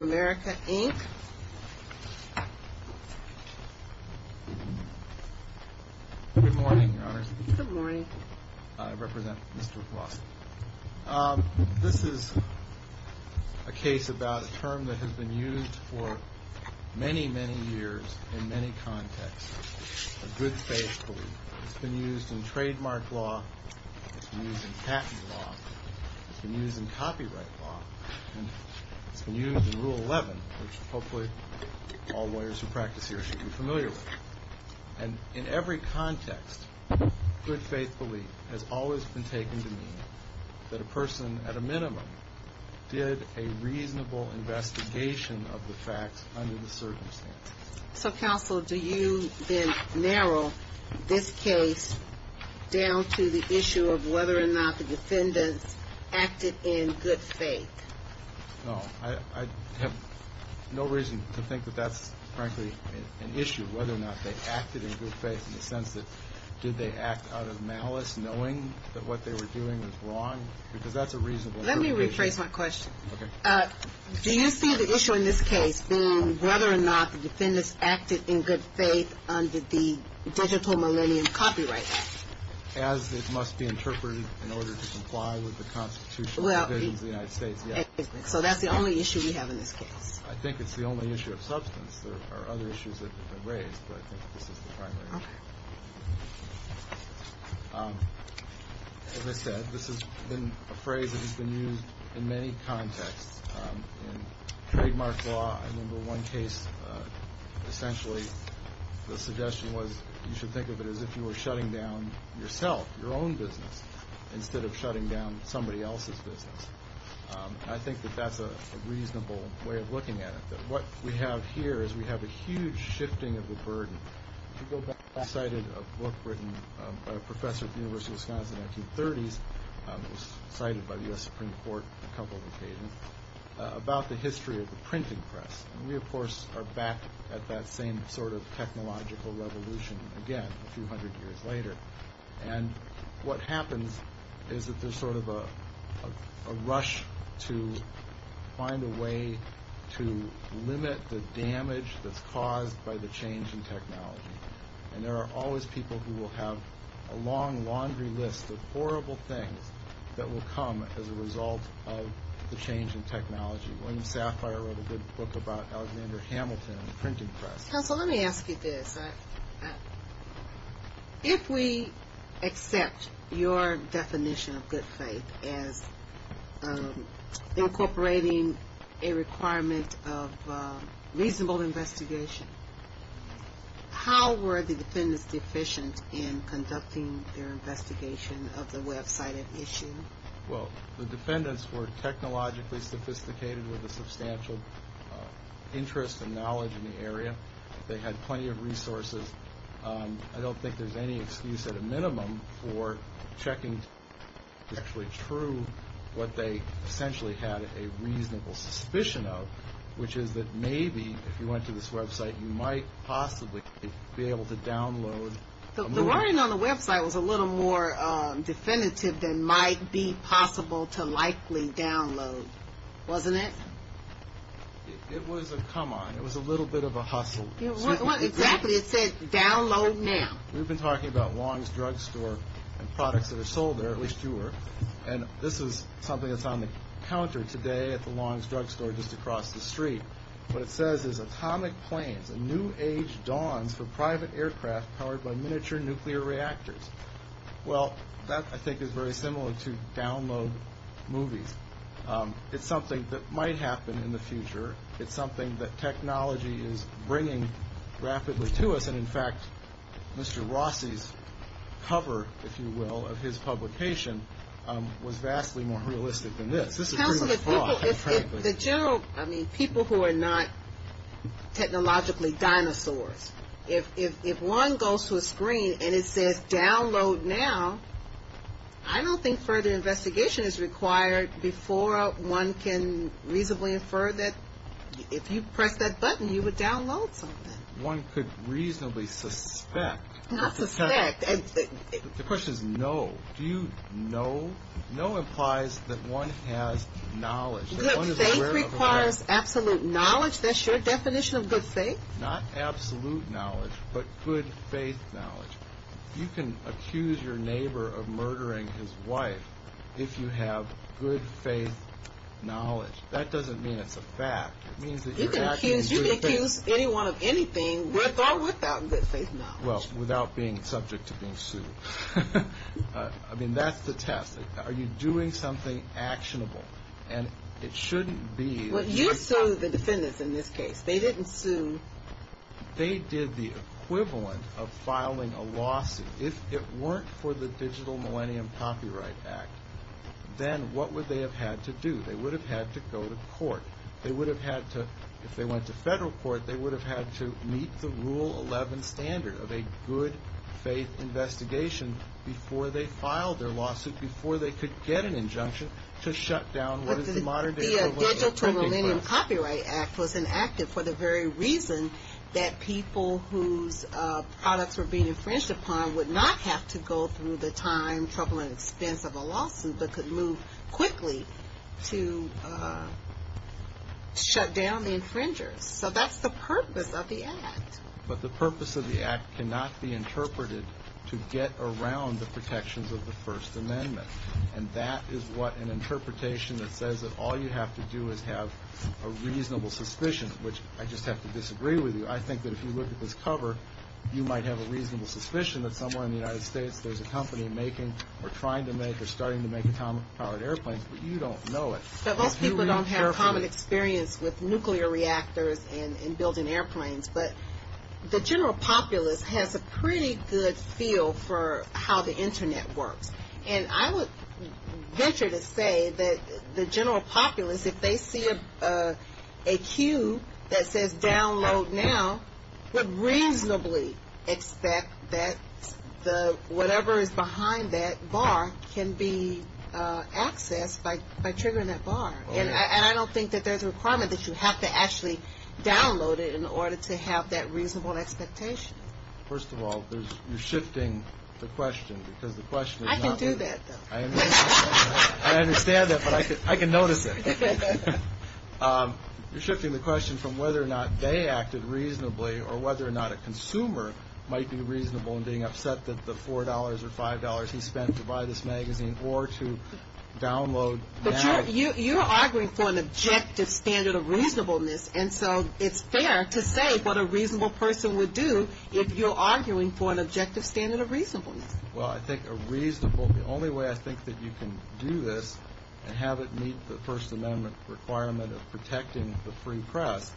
Good morning, Your Honors. Good morning. I represent Mr. Blossom. This is a case about a term that has been used for many, many years in many contexts, a good faith belief. It's been used in trademark law, it's been used in patent law, it's been used in copyright law, and it's been used in Rule 11, which hopefully all lawyers who practice here should be familiar with. And in every context, good faith belief has always been taken to mean that a person, at a minimum, did a reasonable investigation of the facts under the circumstances. So Counsel, do you then narrow this case down to the issue of whether or not the defendants acted in good faith? No. I have no reason to think that that's, frankly, an issue, whether or not they acted in good faith in the sense that did they act out of malice knowing that what they were doing was wrong? Because that's a reasonable interpretation. Let me rephrase my question. Okay. Do you see the issue in this case being whether or not the defendants acted in good faith under the Digital Millennium Copyright Act? As it is the only issue we have in this case. I think it's the only issue of substance. There are other issues that have been raised, but I think this is the primary issue. Okay. As I said, this has been a phrase that has been used in many contexts. In trademark law, I remember one case, essentially, the suggestion was you should think of it as if you were shutting down somebody else's business. I think that that's a reasonable way of looking at it, that what we have here is we have a huge shifting of the burden. If you go back, I cited a book written by a professor at the University of Wisconsin in the 1930s, it was cited by the U.S. Supreme Court a couple of occasions, about the history of the printing press. And we, of course, are back at that same sort of technological revolution again a few hundred years later. And what happens is that there's sort of a rush to find a way to limit the damage that's caused by the change in technology. And there are always people who will have a long laundry list of horrible things that will come as a result of the change in technology. William Sapphire wrote a good book about Alexander Hamilton and the printing press. Counsel, let me ask you this. If we accept your definition of good faith as incorporating a requirement of reasonable investigation, how were the defendants deficient in conducting their investigation of the website at issue? Well, the defendants were technologically sophisticated with a substantial interest and knowledge in the area. They had plenty of resources. I don't think there's any excuse at a minimum for checking to be actually true what they essentially had a reasonable suspicion of, which is that maybe if you went to this website, you might possibly be able to download The wording on the website was a little more definitive than might be possible to likely download, wasn't it? It was a come on. It was a little bit of a hustle. What exactly? It said download now. We've been talking about Long's Drugstore and products that are sold there, at least you were. And this is something that's on the counter today at the Long's Drugstore just across the street. What it says is atomic planes, a new age dawns for private aircraft powered by miniature nuclear reactors. Well, that I think is very similar to download movies. It's something that might happen in the future. It's something that technology is bringing rapidly to us. And in fact, Mr. Rossi's cover, if you will, of his publication was vastly more realistic than this. Counsel, if people, I mean, people who are not technologically dinosaurs, if one goes to a screen and it says download now, I don't think further investigation is required because before one can reasonably infer that if you press that button, you would download something. One could reasonably suspect. Not suspect. The question is no. Do you know? No implies that one has knowledge. Good faith requires absolute knowledge. That's your definition of good faith? Not absolute knowledge, but good faith knowledge. You can accuse your neighbor of murdering his wife if you have good faith knowledge. That doesn't mean it's a fact. You can accuse anyone of anything with or without good faith knowledge. Well, without being subject to being sued. I mean, that's the test. Are you doing something actionable? And it shouldn't be. You sued the defendants in this case. They didn't sue. They did the equivalent of filing a lawsuit. If it weren't for the Digital Millennium Copyright Act, then what would they have had to do? They would have had to go to court. They would have had to, if they went to federal court, they would have had to meet the Rule 11 standard of a good faith investigation before they filed their lawsuit, before they could get an injunction to shut down what is the modern day that people whose products were being infringed upon would not have to go through the time, trouble, and expense of a lawsuit, but could move quickly to shut down the infringers. So that's the purpose of the Act. But the purpose of the Act cannot be interpreted to get around the protections of the First Amendment. And that is what an interpretation that says that all you have to do is have a reasonable suspicion, which I just have to disagree with you. I think that if you look at this cover, you might have a reasonable suspicion that somewhere in the United States there's a company making or trying to make or starting to make atomic powered airplanes, but you don't know it. But most people don't have common experience with nuclear reactors and building airplanes. But the general populace has a pretty good feel for how the Internet works. And I would venture to say that the general populace, if they see a queue that says download now, would reasonably expect that whatever is behind that bar can be accessed by triggering that bar. And I don't think that there's a requirement that you have to actually download it in order to have that reasonable expectation. First of all, you're shifting the question because the question is not... I can do that though. I understand that, but I can notice it. You're shifting the question from whether or not they acted reasonably or whether or not a consumer might be reasonable in being upset that the $4 or $5 he spent to buy this magazine or to download now... But you're arguing for an objective standard of reasonableness. And so it's fair to say what a reasonable person would do if you're arguing for an objective standard of reasonableness. Well, I think a reasonable... The only way I think that you can do this and have it meet the First Amendment requirement of protecting the free press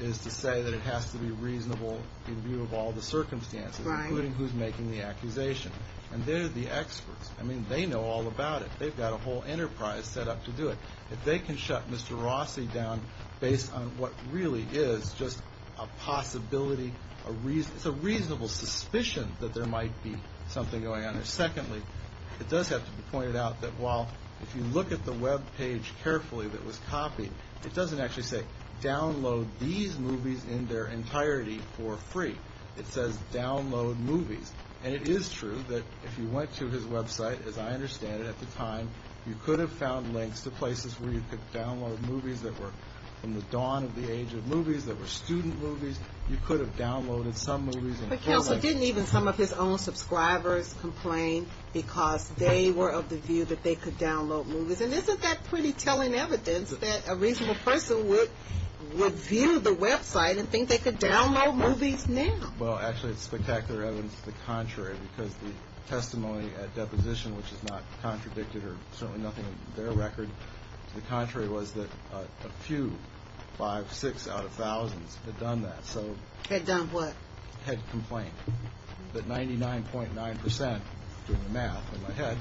is to say that it has to be reasonable in view of all the circumstances, including who's making the accusation. And they're the experts. I mean, they know all about it. They've got a whole enterprise set up to do it. If they can shut Mr. Rossi down based on what really is just a possibility, it's a reasonable suspicion that there might be something going on there. Secondly, it does have to be pointed out that while if you look at the web page carefully that was copied, it doesn't actually say, download these movies in their entirety for free. It says, download movies. And it is true that if you went to his website, as I understand it at the time, you could have found links to places where you could download movies that were from the dawn of the age of movies, that were student movies. You could have downloaded some movies and... But Kelso didn't even some of his own subscribers complain because they were of the view that they could download movies. And isn't that pretty telling evidence that a reasonable person would view the website and think they could download movies now? Well, actually, it's spectacular evidence to the contrary because the testimony at deposition, which is not contradicted or certainly nothing in their record, to the contrary was that a few, five, six out of thousands had done that. So... Had done what? Had complained. That 99.9 percent, doing the math in my head,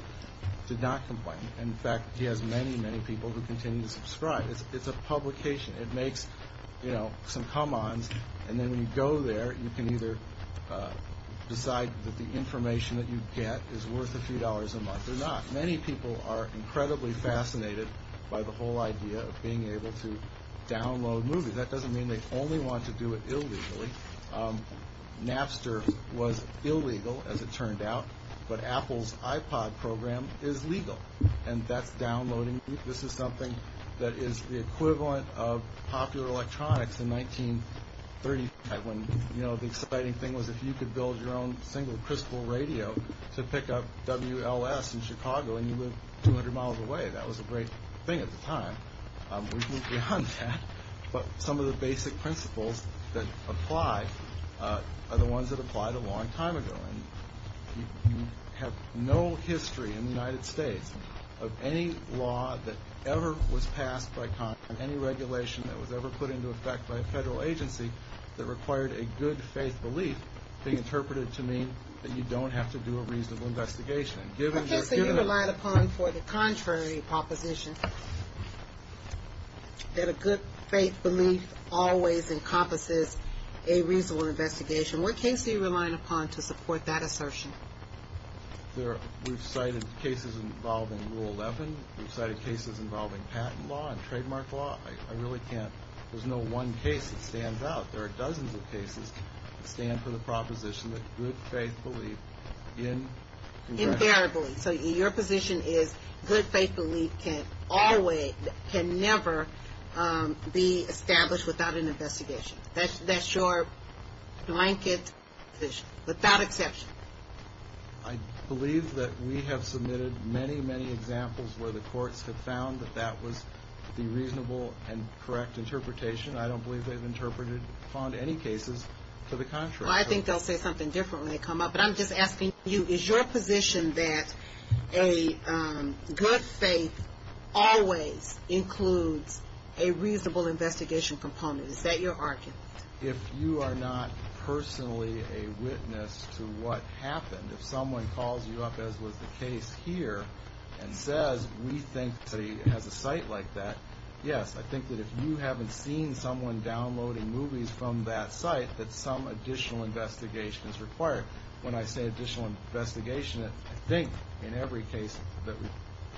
did not complain. In fact, he has many, many people who continue to subscribe. It's a publication. It makes, you know, some come-ons. And then when you go there, you can either decide that the information that you get is worth a few dollars a month or not. Many people are incredibly fascinated by the whole idea of being able to download movies. That doesn't mean they only want to do it illegally. Napster was illegal, as it turned out, but Apple's iPod program is legal. And that's downloading movies. This is something that is the equivalent of popular electronics in 1935 when, you know, the exciting thing was if you could build your own single crystal radio to pick up WLS in Chicago and you live 200 miles away. That was a great thing at the time. We've moved beyond that. But some of the basic principles that apply are the ones that applied a long time ago. And you have no history in the United States of any law that ever was passed by Congress, any regulation that was ever put into effect by a federal agency that required a good-faith belief being interpreted to mean that you don't have to do a reasonable investigation. What case are you relying upon for the contrary proposition that a good-faith belief always encompasses a reasonable investigation? What case are you relying upon to support that assertion? We've cited cases involving Rule 11. We've cited cases involving patent law and trademark law. I really can't. There's no one case that stands out. There are dozens of cases that stand for the proposition that good-faith belief in Congress. Imperatively. So your position is good-faith belief can never be established without an investigation. That's your blanket position, without exception. I believe that we have submitted many, many examples where the courts have found that that was the reasonable and correct interpretation. I don't believe they've interpreted, found any cases to the contrary. I think they'll say something different when they come up. But I'm just asking you, is your position that a good-faith always includes a reasonable investigation component? Is that your argument? If you are not personally a witness to what happened, if someone calls you up, as was the case here, and says, we think that he has a site like that, yes, I think that if you haven't seen someone downloading movies from that site, that some additional investigation is required. When I say additional investigation, I think in every case that we've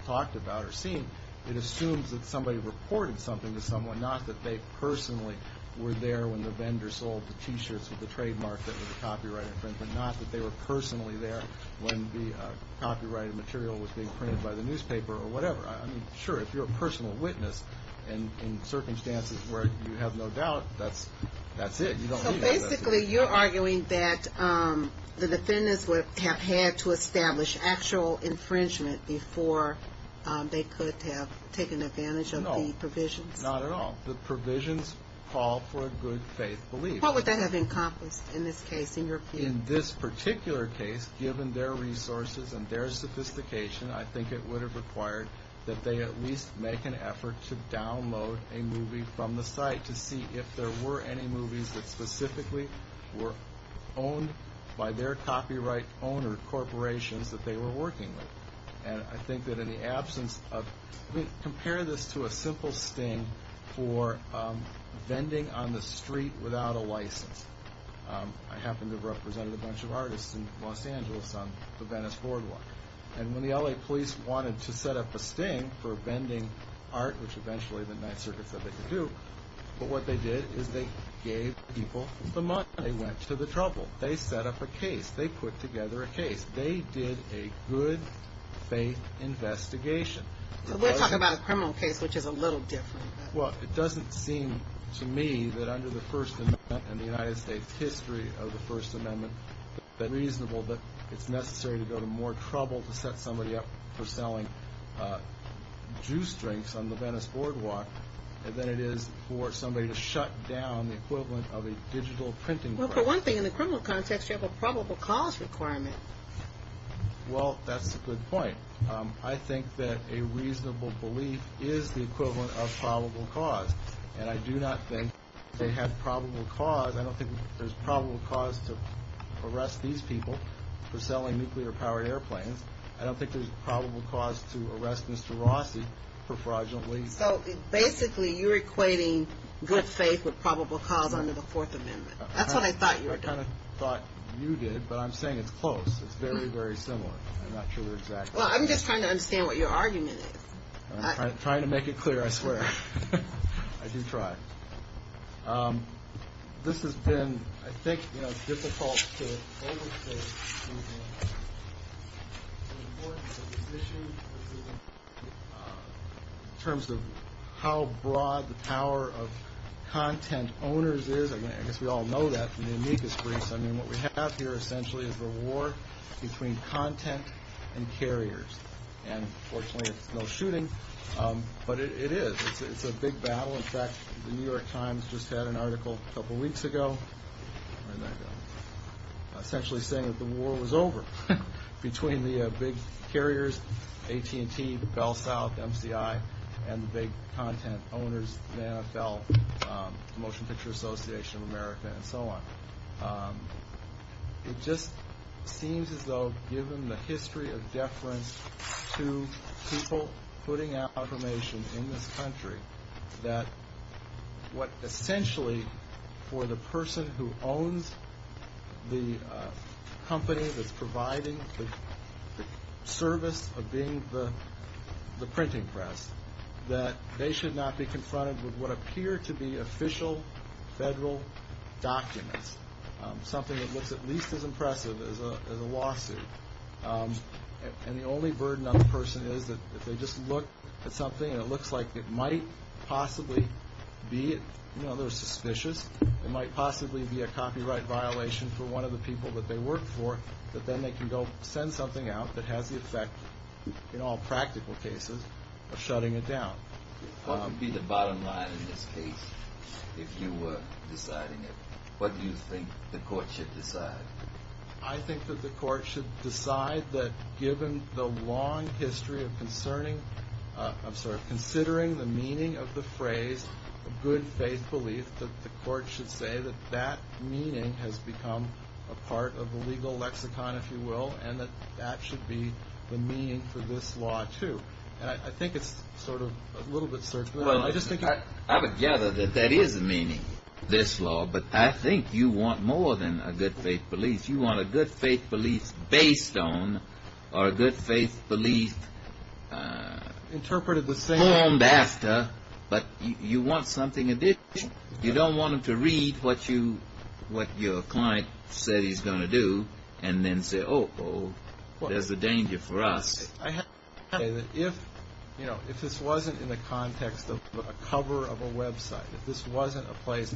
talked about or seen, it assumes that somebody reported something to someone, not that they personally were there when the vendor sold the T-shirts with the trademark that was a copyright infringement, not that they were personally there when the copyrighted material was being printed by the newspaper or whatever. Sure, if you're a personal witness in circumstances where you have no doubt, that's it. So basically, you're arguing that the defendants would have had to establish actual infringement before they could have taken advantage of the provisions? Not at all. The provisions call for a good faith belief. What would that have encompassed in this case, in your opinion? In this particular case, given their resources and their sophistication, I think it would have required that they at least make an effort to download a movie from the site to see if there were any movies that specifically were owned by their copyright owner corporations that they were working with. And I think that in the absence of... Compare this to a simple sting for vending on the street without a license. I happen to have represented a bunch of artists in Los Angeles on the Venice boardwalk. And when the L.A. police wanted to set up a sting for vending art, which eventually the Ninth Circuit said they could do, but what they did is they gave people the money. They went to the trouble. They set up a case. They put together a case. They did a good faith investigation. So we're talking about a criminal case, which is a little different. Well, it doesn't seem to me that under the First Amendment and the United States history of the First Amendment that it's reasonable that it's necessary to go to more trouble to set somebody up for selling juice drinks on the Venice boardwalk than it is for somebody to shut down the equivalent of a digital printing press. For one thing, in the criminal context, you have a probable cause requirement. Well, that's a good point. I think that a reasonable belief is the equivalent of probable cause. And I do not think they have probable cause. I don't think there's probable cause to arrest these people for selling nuclear-powered airplanes. I don't think there's probable cause to arrest Mr. Rossi for fraudulently... So basically you're equating good faith with probable cause under the Fourth Amendment. That's what I thought you were doing. I kind of thought you did, but I'm saying it's close. It's very, very similar. I'm not sure exactly. Well, I'm just trying to understand what your argument is. I'm trying to make it clear, I swear. I do try. This has been, I think, difficult to overstate in terms of how broad the power of content owners is. I guess we all know that from the amicus briefs. I mean, what we have here, essentially, is a war between content and carriers. And, fortunately, it's no shooting, but it is. It's a big battle. In fact, the New York Times just had an article a couple of weeks ago essentially saying that the war was over between the big carriers, AT&T, BellSouth, MCI, and the big content owners, the NFL, the Motion Picture Association of America, and so on. It just seems as though, given the history of deference to people putting out information in this country, that what essentially, for the person who owns the company that's providing the service of being the printing press, that they should not be confronted with what appear to be official federal documents, something that looks at least as impressive as a lawsuit. And the only burden on the person is that if they just look at something and it looks like it might possibly be, you know, they're suspicious, it might possibly be a copyright violation for one of the people that they work for, that then they can go send something out that has the effect, in all practical cases, of shutting it down. What would be the bottom line in this case if you were deciding it? What do you think the court should decide? I think that the court should decide that given the long history of concerning, I'm sorry, considering the meaning of the phrase good faith belief, that the court should say that that meaning has become a part of the legal lexicon, if you will, and that that should be the meaning for this law, too. And I think it's sort of a little bit certain. I would gather that that is the meaning of this law, but I think you want more than a good faith belief. You want a good faith belief based on or a good faith belief formed after, but you want something additional. You don't want them to read what your client said he's going to do and then say, oh, oh, there's a danger for us. I have to say that if this wasn't in the context of a cover of a website, if this wasn't a place,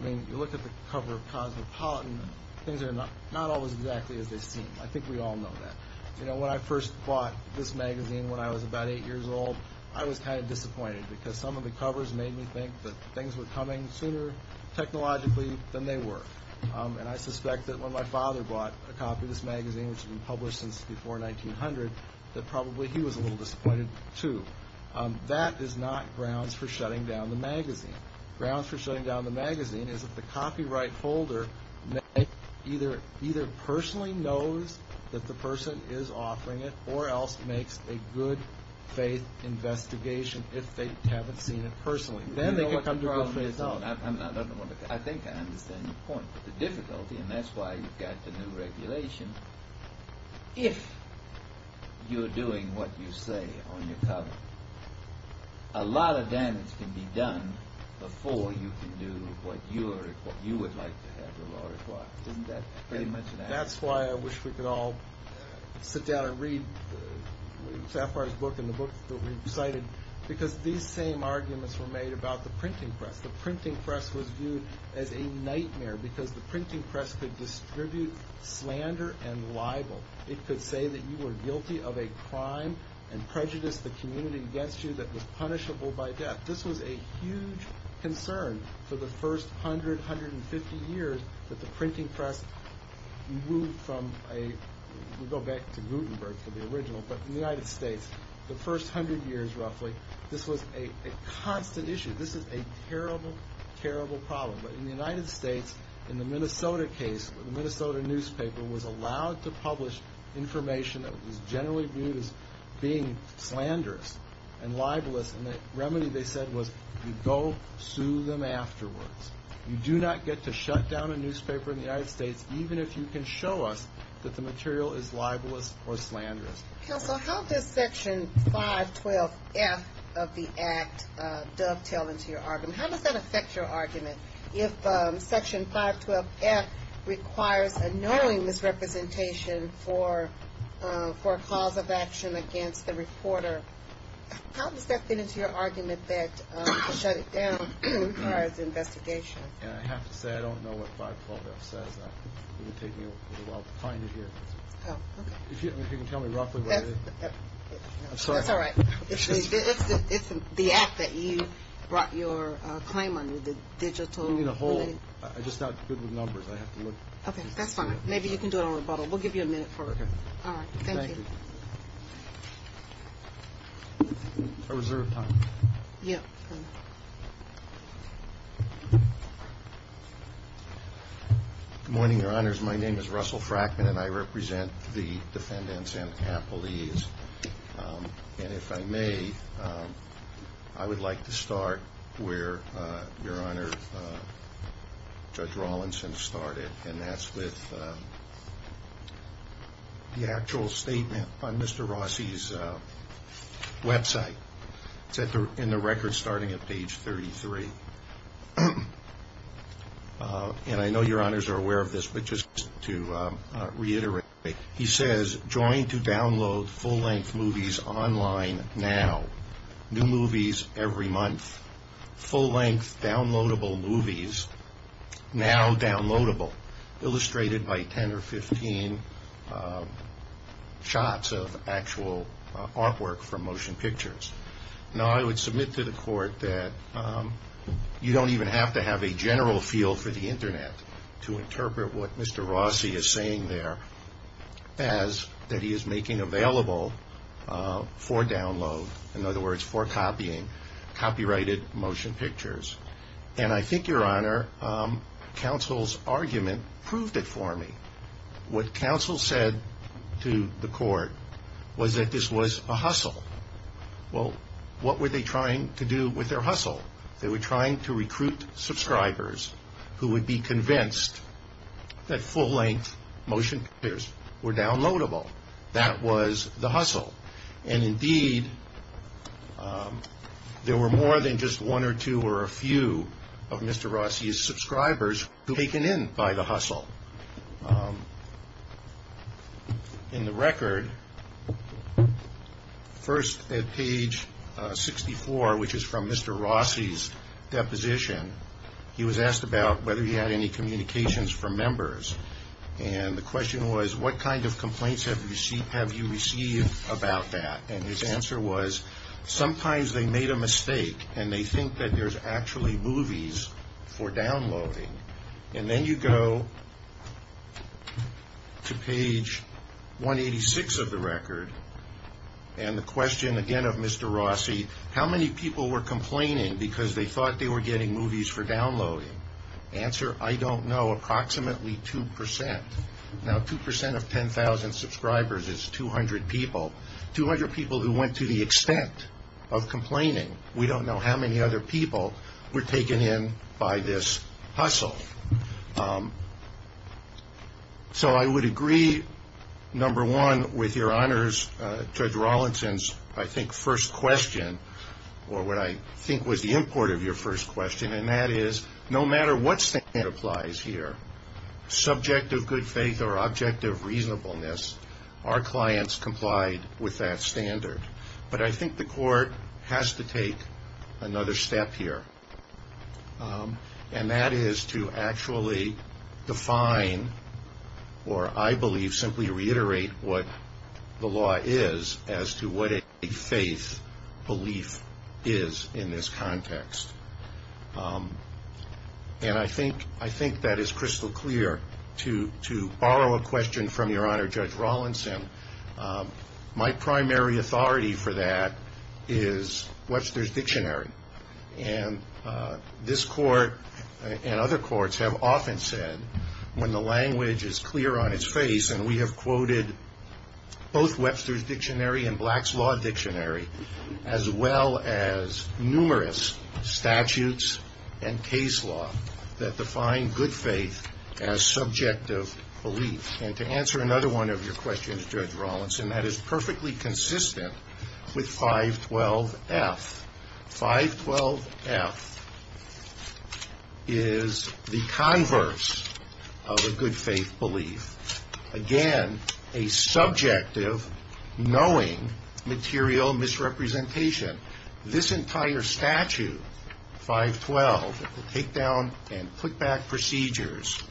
I mean, you look at the cover of Cosmopolitan, things are not always exactly as they seem. I think we all know that. You know, when I first bought this magazine when I was about eight years old, I was kind of disappointed because some of the covers made me think that things were coming sooner technologically than they were. And I suspect that when my father bought a copy of this magazine, which had been published since before 1900, that probably he was a little disappointed, too. That is not grounds for shutting down the magazine. Grounds for shutting down the magazine is if the copyright holder either personally knows that the person is offering it or else makes a good faith investigation if they haven't seen it personally. I think I understand your point. But the difficulty, and that's why you've got the new regulation, if you're doing what you say on your cover, a lot of damage can be done before you can do what you would like to have the law require. Isn't that pretty much it? That's why I wish we could all sit down and read Safar's book and the book that we've cited. Because these same arguments were made about the printing press. The printing press was viewed as a nightmare because the printing press could distribute slander and libel. It could say that you were guilty of a crime and prejudice the community against you that was punishable by death. This was a huge concern for the first 100, 150 years that the printing press moved from a— we go back to Gutenberg for the original— in the United States, the first 100 years roughly, this was a constant issue. This is a terrible, terrible problem. But in the United States, in the Minnesota case, the Minnesota newspaper was allowed to publish information that was generally viewed as being slanderous and libelous. And the remedy, they said, was you go sue them afterwards. You do not get to shut down a newspaper in the United States even if you can show us that the material is libelous or slanderous. Counsel, how does Section 512F of the Act dovetail into your argument? How does that affect your argument? If Section 512F requires a knowing misrepresentation for a cause of action against the reporter, how does that fit into your argument that to shut it down requires investigation? I have to say I don't know what 512F says. It would take me a little while to find it here. Oh, okay. If you can tell me roughly what it is. I'm sorry. That's all right. It's the Act that you brought your claim under, the digital. You mean a whole? I'm just not good with numbers. I have to look. Okay, that's fine. Maybe you can do it on rebuttal. We'll give you a minute for it. Okay. All right. Thank you. Thank you. I reserve time. Yeah. Good morning, Your Honors. My name is Russell Frackman, and I represent the defendants and appellees. And if I may, I would like to start where Your Honor, Judge Rawlinson started, and that's with the actual statement on Mr. Rossi's website. It's in the record starting at page 33. And I know Your Honors are aware of this, but just to reiterate, he says, join to download full-length movies online now, new movies every month, full-length downloadable movies now downloadable, illustrated by 10 or 15 shots of actual artwork from motion pictures. Now, I would submit to the court that you don't even have to have a general feel for the Internet to interpret what Mr. Rossi is saying there as that he is making available for download, in other words, for copying, copyrighted motion pictures. And I think, Your Honor, counsel's argument proved it for me. What counsel said to the court was that this was a hustle. Well, what were they trying to do with their hustle? They were trying to recruit subscribers who would be convinced that full-length motion pictures were downloadable. That was the hustle. And indeed, there were more than just one or two or a few of Mr. Rossi's subscribers who were taken in by the hustle. In the record, first at page 64, which is from Mr. Rossi's deposition, he was asked about whether he had any communications from members. And the question was, what kind of complaints have you received about that? And his answer was, sometimes they made a mistake, and they think that there's actually movies for downloading. And then you go to page 186 of the record, and the question again of Mr. Rossi, how many people were complaining because they thought they were getting movies for downloading? Answer, I don't know, approximately 2%. Now, 2% of 10,000 subscribers is 200 people, 200 people who went to the extent of complaining. We don't know how many other people were taken in by this hustle. So I would agree, number one, with your honors, Judge Rawlinson's, I think, first question, or what I think was the import of your first question, and that is no matter what standard applies here, subject of good faith or object of reasonableness, our clients complied with that standard. But I think the court has to take another step here, and that is to actually define or, I believe, to simply reiterate what the law is as to what a faith belief is in this context. And I think that is crystal clear. To borrow a question from your honor, Judge Rawlinson, my primary authority for that is Webster's Dictionary. And this court and other courts have often said when the language is clear on its face, and we have quoted both Webster's Dictionary and Black's Law Dictionary, as well as numerous statutes and case law that define good faith as subject of belief. And to answer another one of your questions, Judge Rawlinson, that is perfectly consistent with 512F. 512F is the converse of a good faith belief. Again, a subjective, knowing, material misrepresentation. This entire statute, 512, the takedown and putback procedures,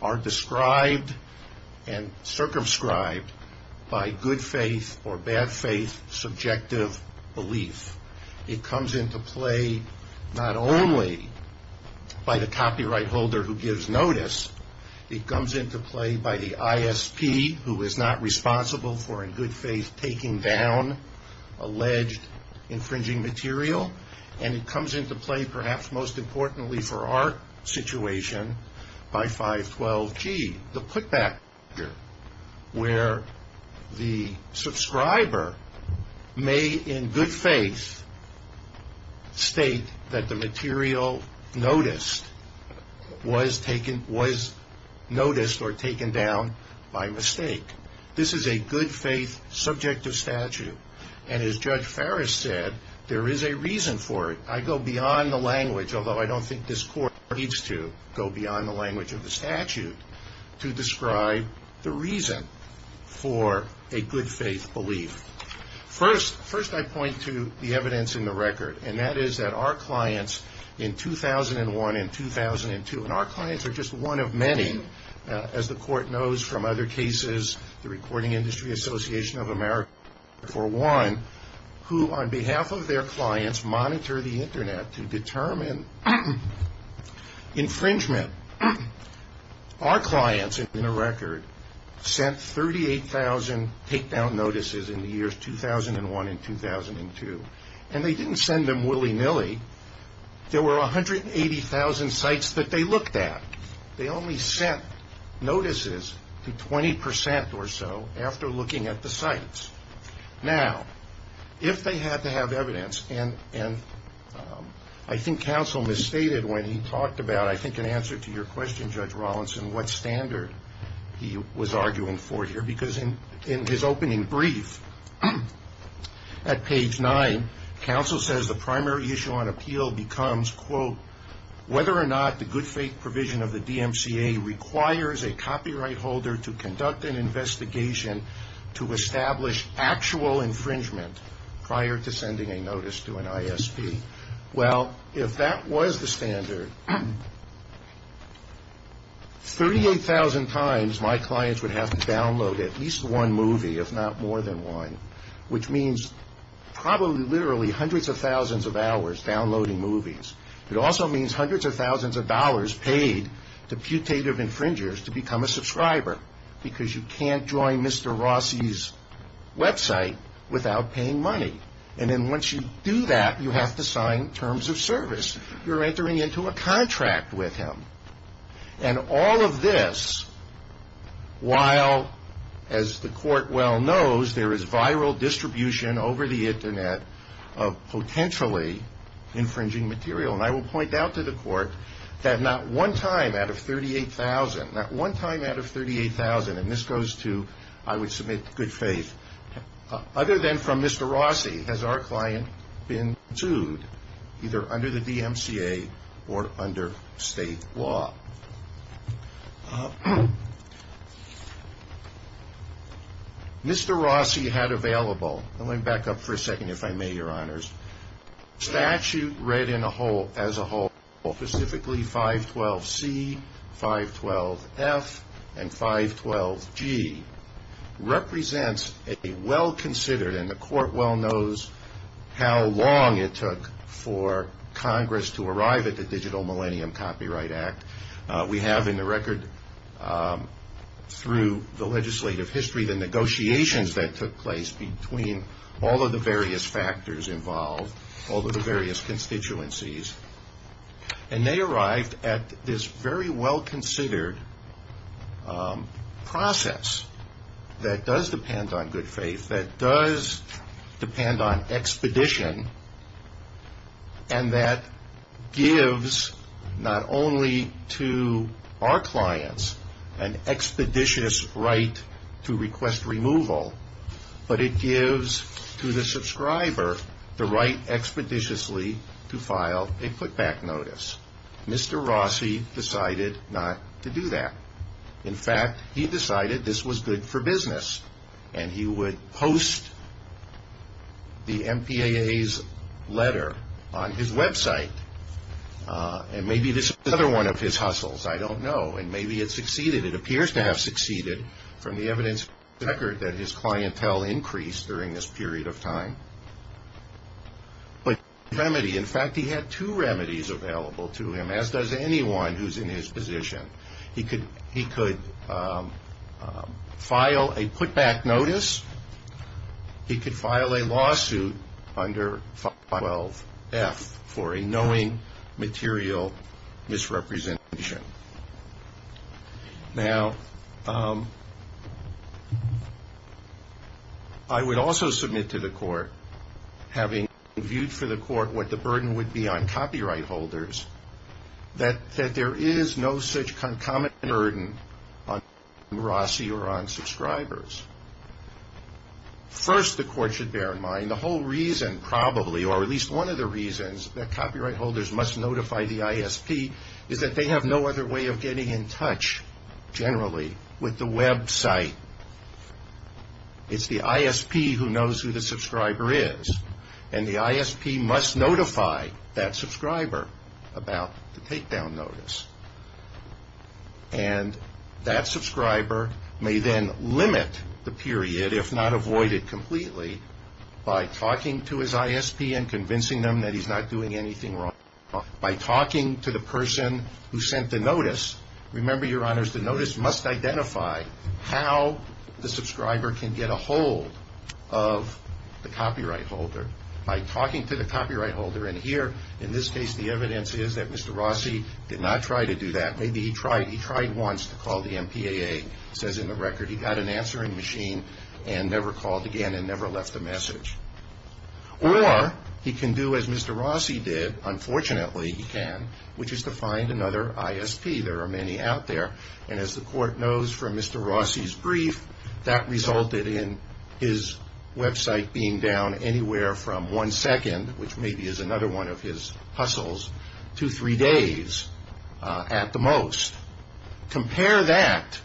are described and circumscribed by good faith or bad faith subjective belief. It comes into play not only by the copyright holder who gives notice, it comes into play by the ISP who is not responsible for, in good faith, taking down alleged infringing material. And it comes into play, perhaps most importantly for our situation, by 512G, the putback procedure, where the subscriber may, in good faith, state that the material noticed was noticed or taken down by mistake. This is a good faith subjective statute. And as Judge Farris said, there is a reason for it. I go beyond the language, although I don't think this Court needs to go beyond the language of the statute, to describe the reason for a good faith belief. First, I point to the evidence in the record, and that is that our clients in 2001 and 2002, and our clients are just one of many, as the Court knows from other cases, the Recording Industry Association of America, for one, who on behalf of their clients monitor the Internet to determine infringement. Our clients, in the record, sent 38,000 takedown notices in the years 2001 and 2002. And they didn't send them willy-nilly. There were 180,000 sites that they looked at. They only sent notices to 20% or so after looking at the sites. Now, if they had to have evidence, and I think counsel misstated when he talked about, I think in answer to your question, Judge Rawlinson, what standard he was arguing for here, because in his opening brief at page 9, counsel says the primary issue on appeal becomes, quote, whether or not the good faith provision of the DMCA requires a copyright holder to conduct an investigation to establish actual infringement prior to sending a notice to an ISP. Well, if that was the standard, 38,000 times my clients would have to download at least one movie, if not more than one, which means probably literally hundreds of thousands of hours downloading movies. It also means hundreds of thousands of dollars paid to putative infringers to become a subscriber because you can't join Mr. Rossi's website without paying money. And then once you do that, you have to sign terms of service. You're entering into a contract with him. And all of this, while, as the court well knows, there is viral distribution over the Internet of potentially infringing material, and I will point out to the court that not one time out of 38,000, not one time out of 38,000, and this goes to, I would submit, good faith, other than from Mr. Rossi, has our client been sued either under the DMCA or under state law. Mr. Rossi had available, let me back up for a second if I may, Your Honors, statute read as a whole, specifically 512C, 512F, and 512G, represents a well-considered, and the court well knows how long it took for Congress to arrive at the Digital Millennium Copyright Act. We have in the record through the legislative history the negotiations that took place between all of the various factors involved, all of the various constituencies, and they arrived at this very well-considered process that does depend on good faith, that does depend on expedition, and that gives not only to our clients an expeditious right to request removal, but it gives to the subscriber the right expeditiously to file a put-back notice. Mr. Rossi decided not to do that. In fact, he decided this was good for business, and he would post the MPAA's letter on his website, and maybe this was another one of his hustles, I don't know, and maybe it succeeded. It appears to have succeeded from the evidence in the record that his clientele increased during this period of time. But he had a remedy. In fact, he had two remedies available to him, as does anyone who's in his position. He could file a put-back notice. He could file a lawsuit under 512F for a knowing material misrepresentation. Now, I would also submit to the court, having viewed for the court what the burden would be on copyright holders, that there is no such concomitant burden on Rossi or on subscribers. First, the court should bear in mind the whole reason probably, or at least one of the reasons, that copyright holders must notify the ISP is that they have no other way of getting in touch, generally, with the website. It's the ISP who knows who the subscriber is, and the ISP must notify that subscriber about the takedown notice. And that subscriber may then limit the period, if not avoid it completely, by talking to his ISP and convincing them that he's not doing anything wrong. By talking to the person who sent the notice, remember, Your Honors, the notice must identify how the subscriber can get a hold of the copyright holder. By talking to the copyright holder, and here, in this case, the evidence is that Mr. Rossi did not try to do that. Maybe he tried. He tried once to call the MPAA. He says in the record he got an answering machine and never called again and never left a message. Or, he can do as Mr. Rossi did, unfortunately he can, which is to find another ISP. There are many out there, and as the court knows from Mr. Rossi's brief, that resulted in his website being down anywhere from one second, which maybe is another one of his hustles, to three days at the most. Compare that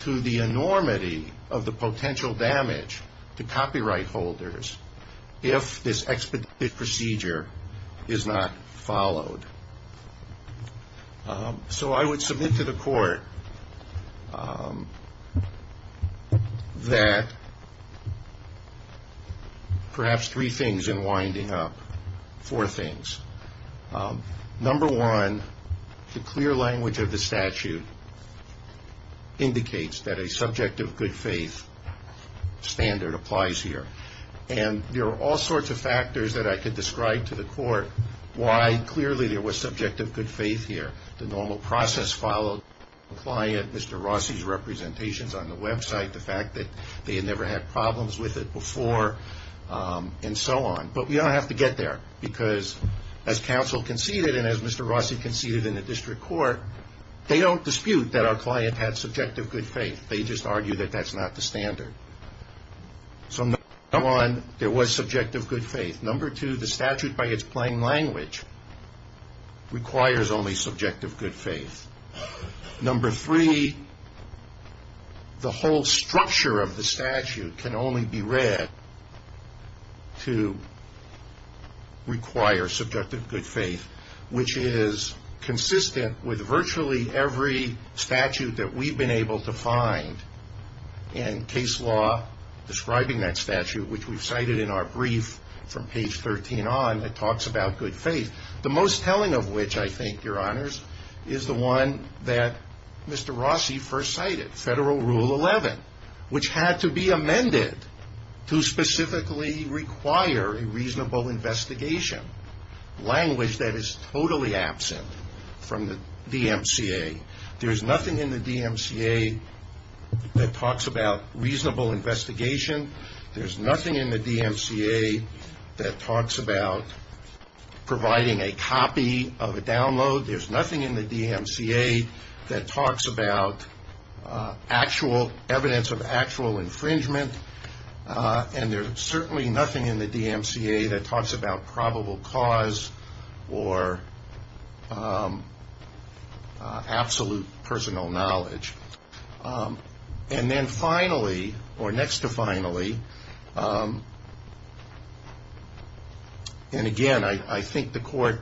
to the enormity of the potential damage to copyright holders if this expedited procedure is not followed. So I would submit to the court that perhaps three things in winding up, four things. Number one, the clear language of the statute indicates that a subject of good faith standard applies here. And there are all sorts of factors that I could describe to the court why clearly there was subject of good faith here. The normal process followed, the client, Mr. Rossi's representations on the website, the fact that they had never had problems with it before, and so on. But we don't have to get there, because as counsel conceded and as Mr. Rossi conceded in the district court, they don't dispute that our client had subjective good faith, they just argue that that's not the standard. So number one, there was subjective good faith. Number two, the statute by its plain language requires only subjective good faith. Number three, the whole structure of the statute can only be read to require subjective good faith, which is consistent with virtually every statute that we've been able to find in case law describing that statute, which we've cited in our brief from page 13 on that talks about good faith. The most telling of which, I think, Your Honors, is the one that Mr. Rossi first cited, Federal Rule 11, which had to be amended to specifically require a reasonable investigation, language that is totally absent from the DMCA. There is nothing in the DMCA that talks about reasonable investigation. There's nothing in the DMCA that talks about providing a copy of a download. There's nothing in the DMCA that talks about actual evidence of actual infringement, and there's certainly nothing in the DMCA that talks about probable cause or absolute personal knowledge. And then finally, or next to finally, and again, I think the Court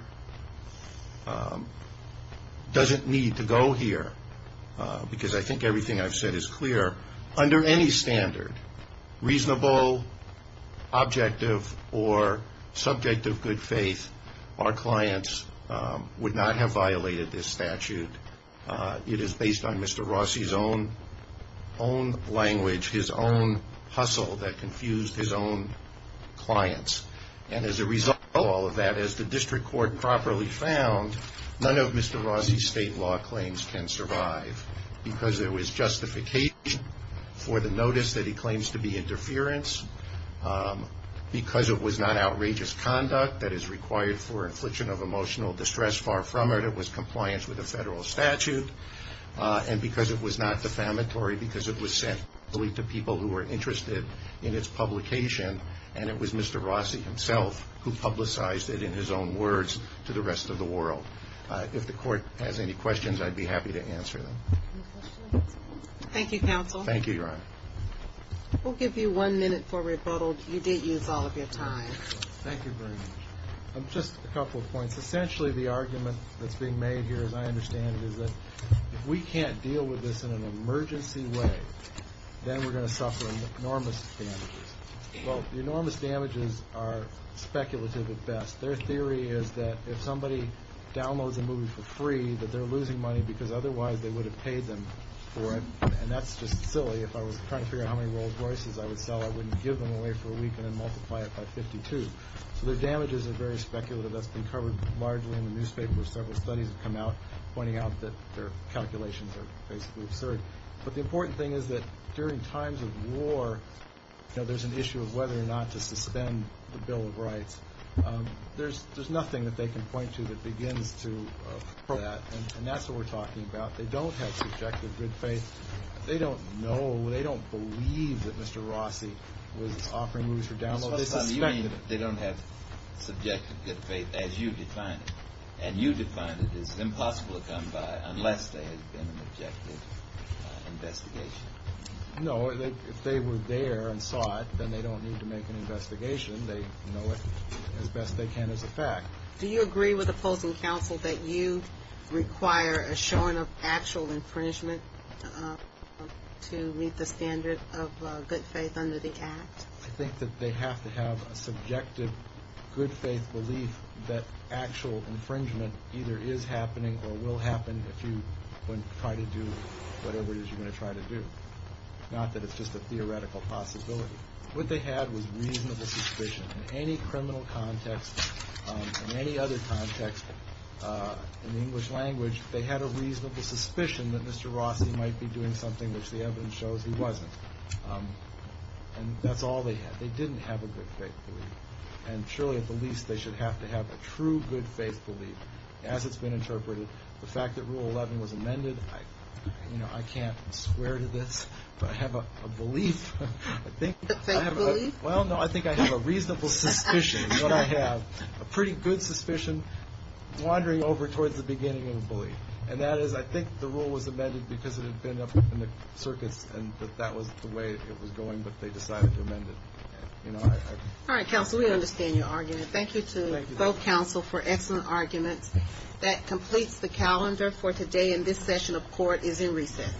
doesn't need to go here, because I think everything I've said is clear. Under any standard, reasonable, objective, or subjective good faith, our clients would not have violated this statute. It is based on Mr. Rossi's own language, his own hustle that confused his own clients. And as a result of all of that, as the District Court properly found, none of Mr. Rossi's state law claims can survive, because there was justification for the notice that he claims to be interference, because it was not outrageous conduct that is required for infliction of emotional distress. Far from it, it was compliance with the federal statute, and because it was not defamatory, because it was sent only to people who were interested in its publication, and it was Mr. Rossi himself who publicized it in his own words to the rest of the world. If the Court has any questions, I'd be happy to answer them. Thank you, counsel. We'll give you one minute for rebuttal. You did use all of your time. Thank you very much. Just a couple of points. Essentially, the argument that's being made here, as I understand it, is that if we can't deal with this in an emergency way, then we're going to suffer enormous damages. Well, the enormous damages are speculative at best. Their theory is that if somebody downloads a movie for free, that they're losing money because otherwise they would have paid them for it, and that's just silly. If I was trying to figure out how many Rolls Royces I would sell, I wouldn't give them away for a week and then multiply it by 52. So their damages are very speculative. That's been covered largely in the newspaper. Several studies have come out pointing out that their calculations are basically absurd. But the important thing is that during times of war, there's an issue of whether or not to suspend the Bill of Rights. There's nothing that they can point to that begins to prove that, and that's what we're talking about. They don't have subjective good faith. They don't know, they don't believe that Mr. Rossi was offering movies for download. So you mean they don't have subjective good faith as you define it, and you define it as impossible to come by unless there has been an objective investigation? No, if they were there and saw it, then they don't need to make an investigation. They know it as best they can as a fact. Do you agree with opposing counsel that you require a showing of actual infringement to meet the standard of good faith under the Act? I think that they have to have a subjective good faith belief that actual infringement either is happening or will happen if you try to do whatever it is you're going to try to do. Not that it's just a theoretical possibility. What they had was reasonable suspicion. In any criminal context, in any other context in the English language, they had a reasonable suspicion that Mr. Rossi might be doing something which the evidence shows he wasn't. And that's all they had. They didn't have a good faith belief, and surely at the least they should have to have a true good faith belief. As it's been interpreted, the fact that Rule 11 was amended, I can't swear to this, but I have a belief. A good faith belief? Well, no, I think I have a reasonable suspicion, is what I have. A pretty good suspicion, wandering over towards the beginning of a belief. And that is, I think the rule was amended because it had been up in the circuits and that that was the way it was going, but they decided to amend it. All right, counsel, we understand your argument. Thank you to both counsel for excellent arguments. That completes the calendar for today, and this session of court is in recess.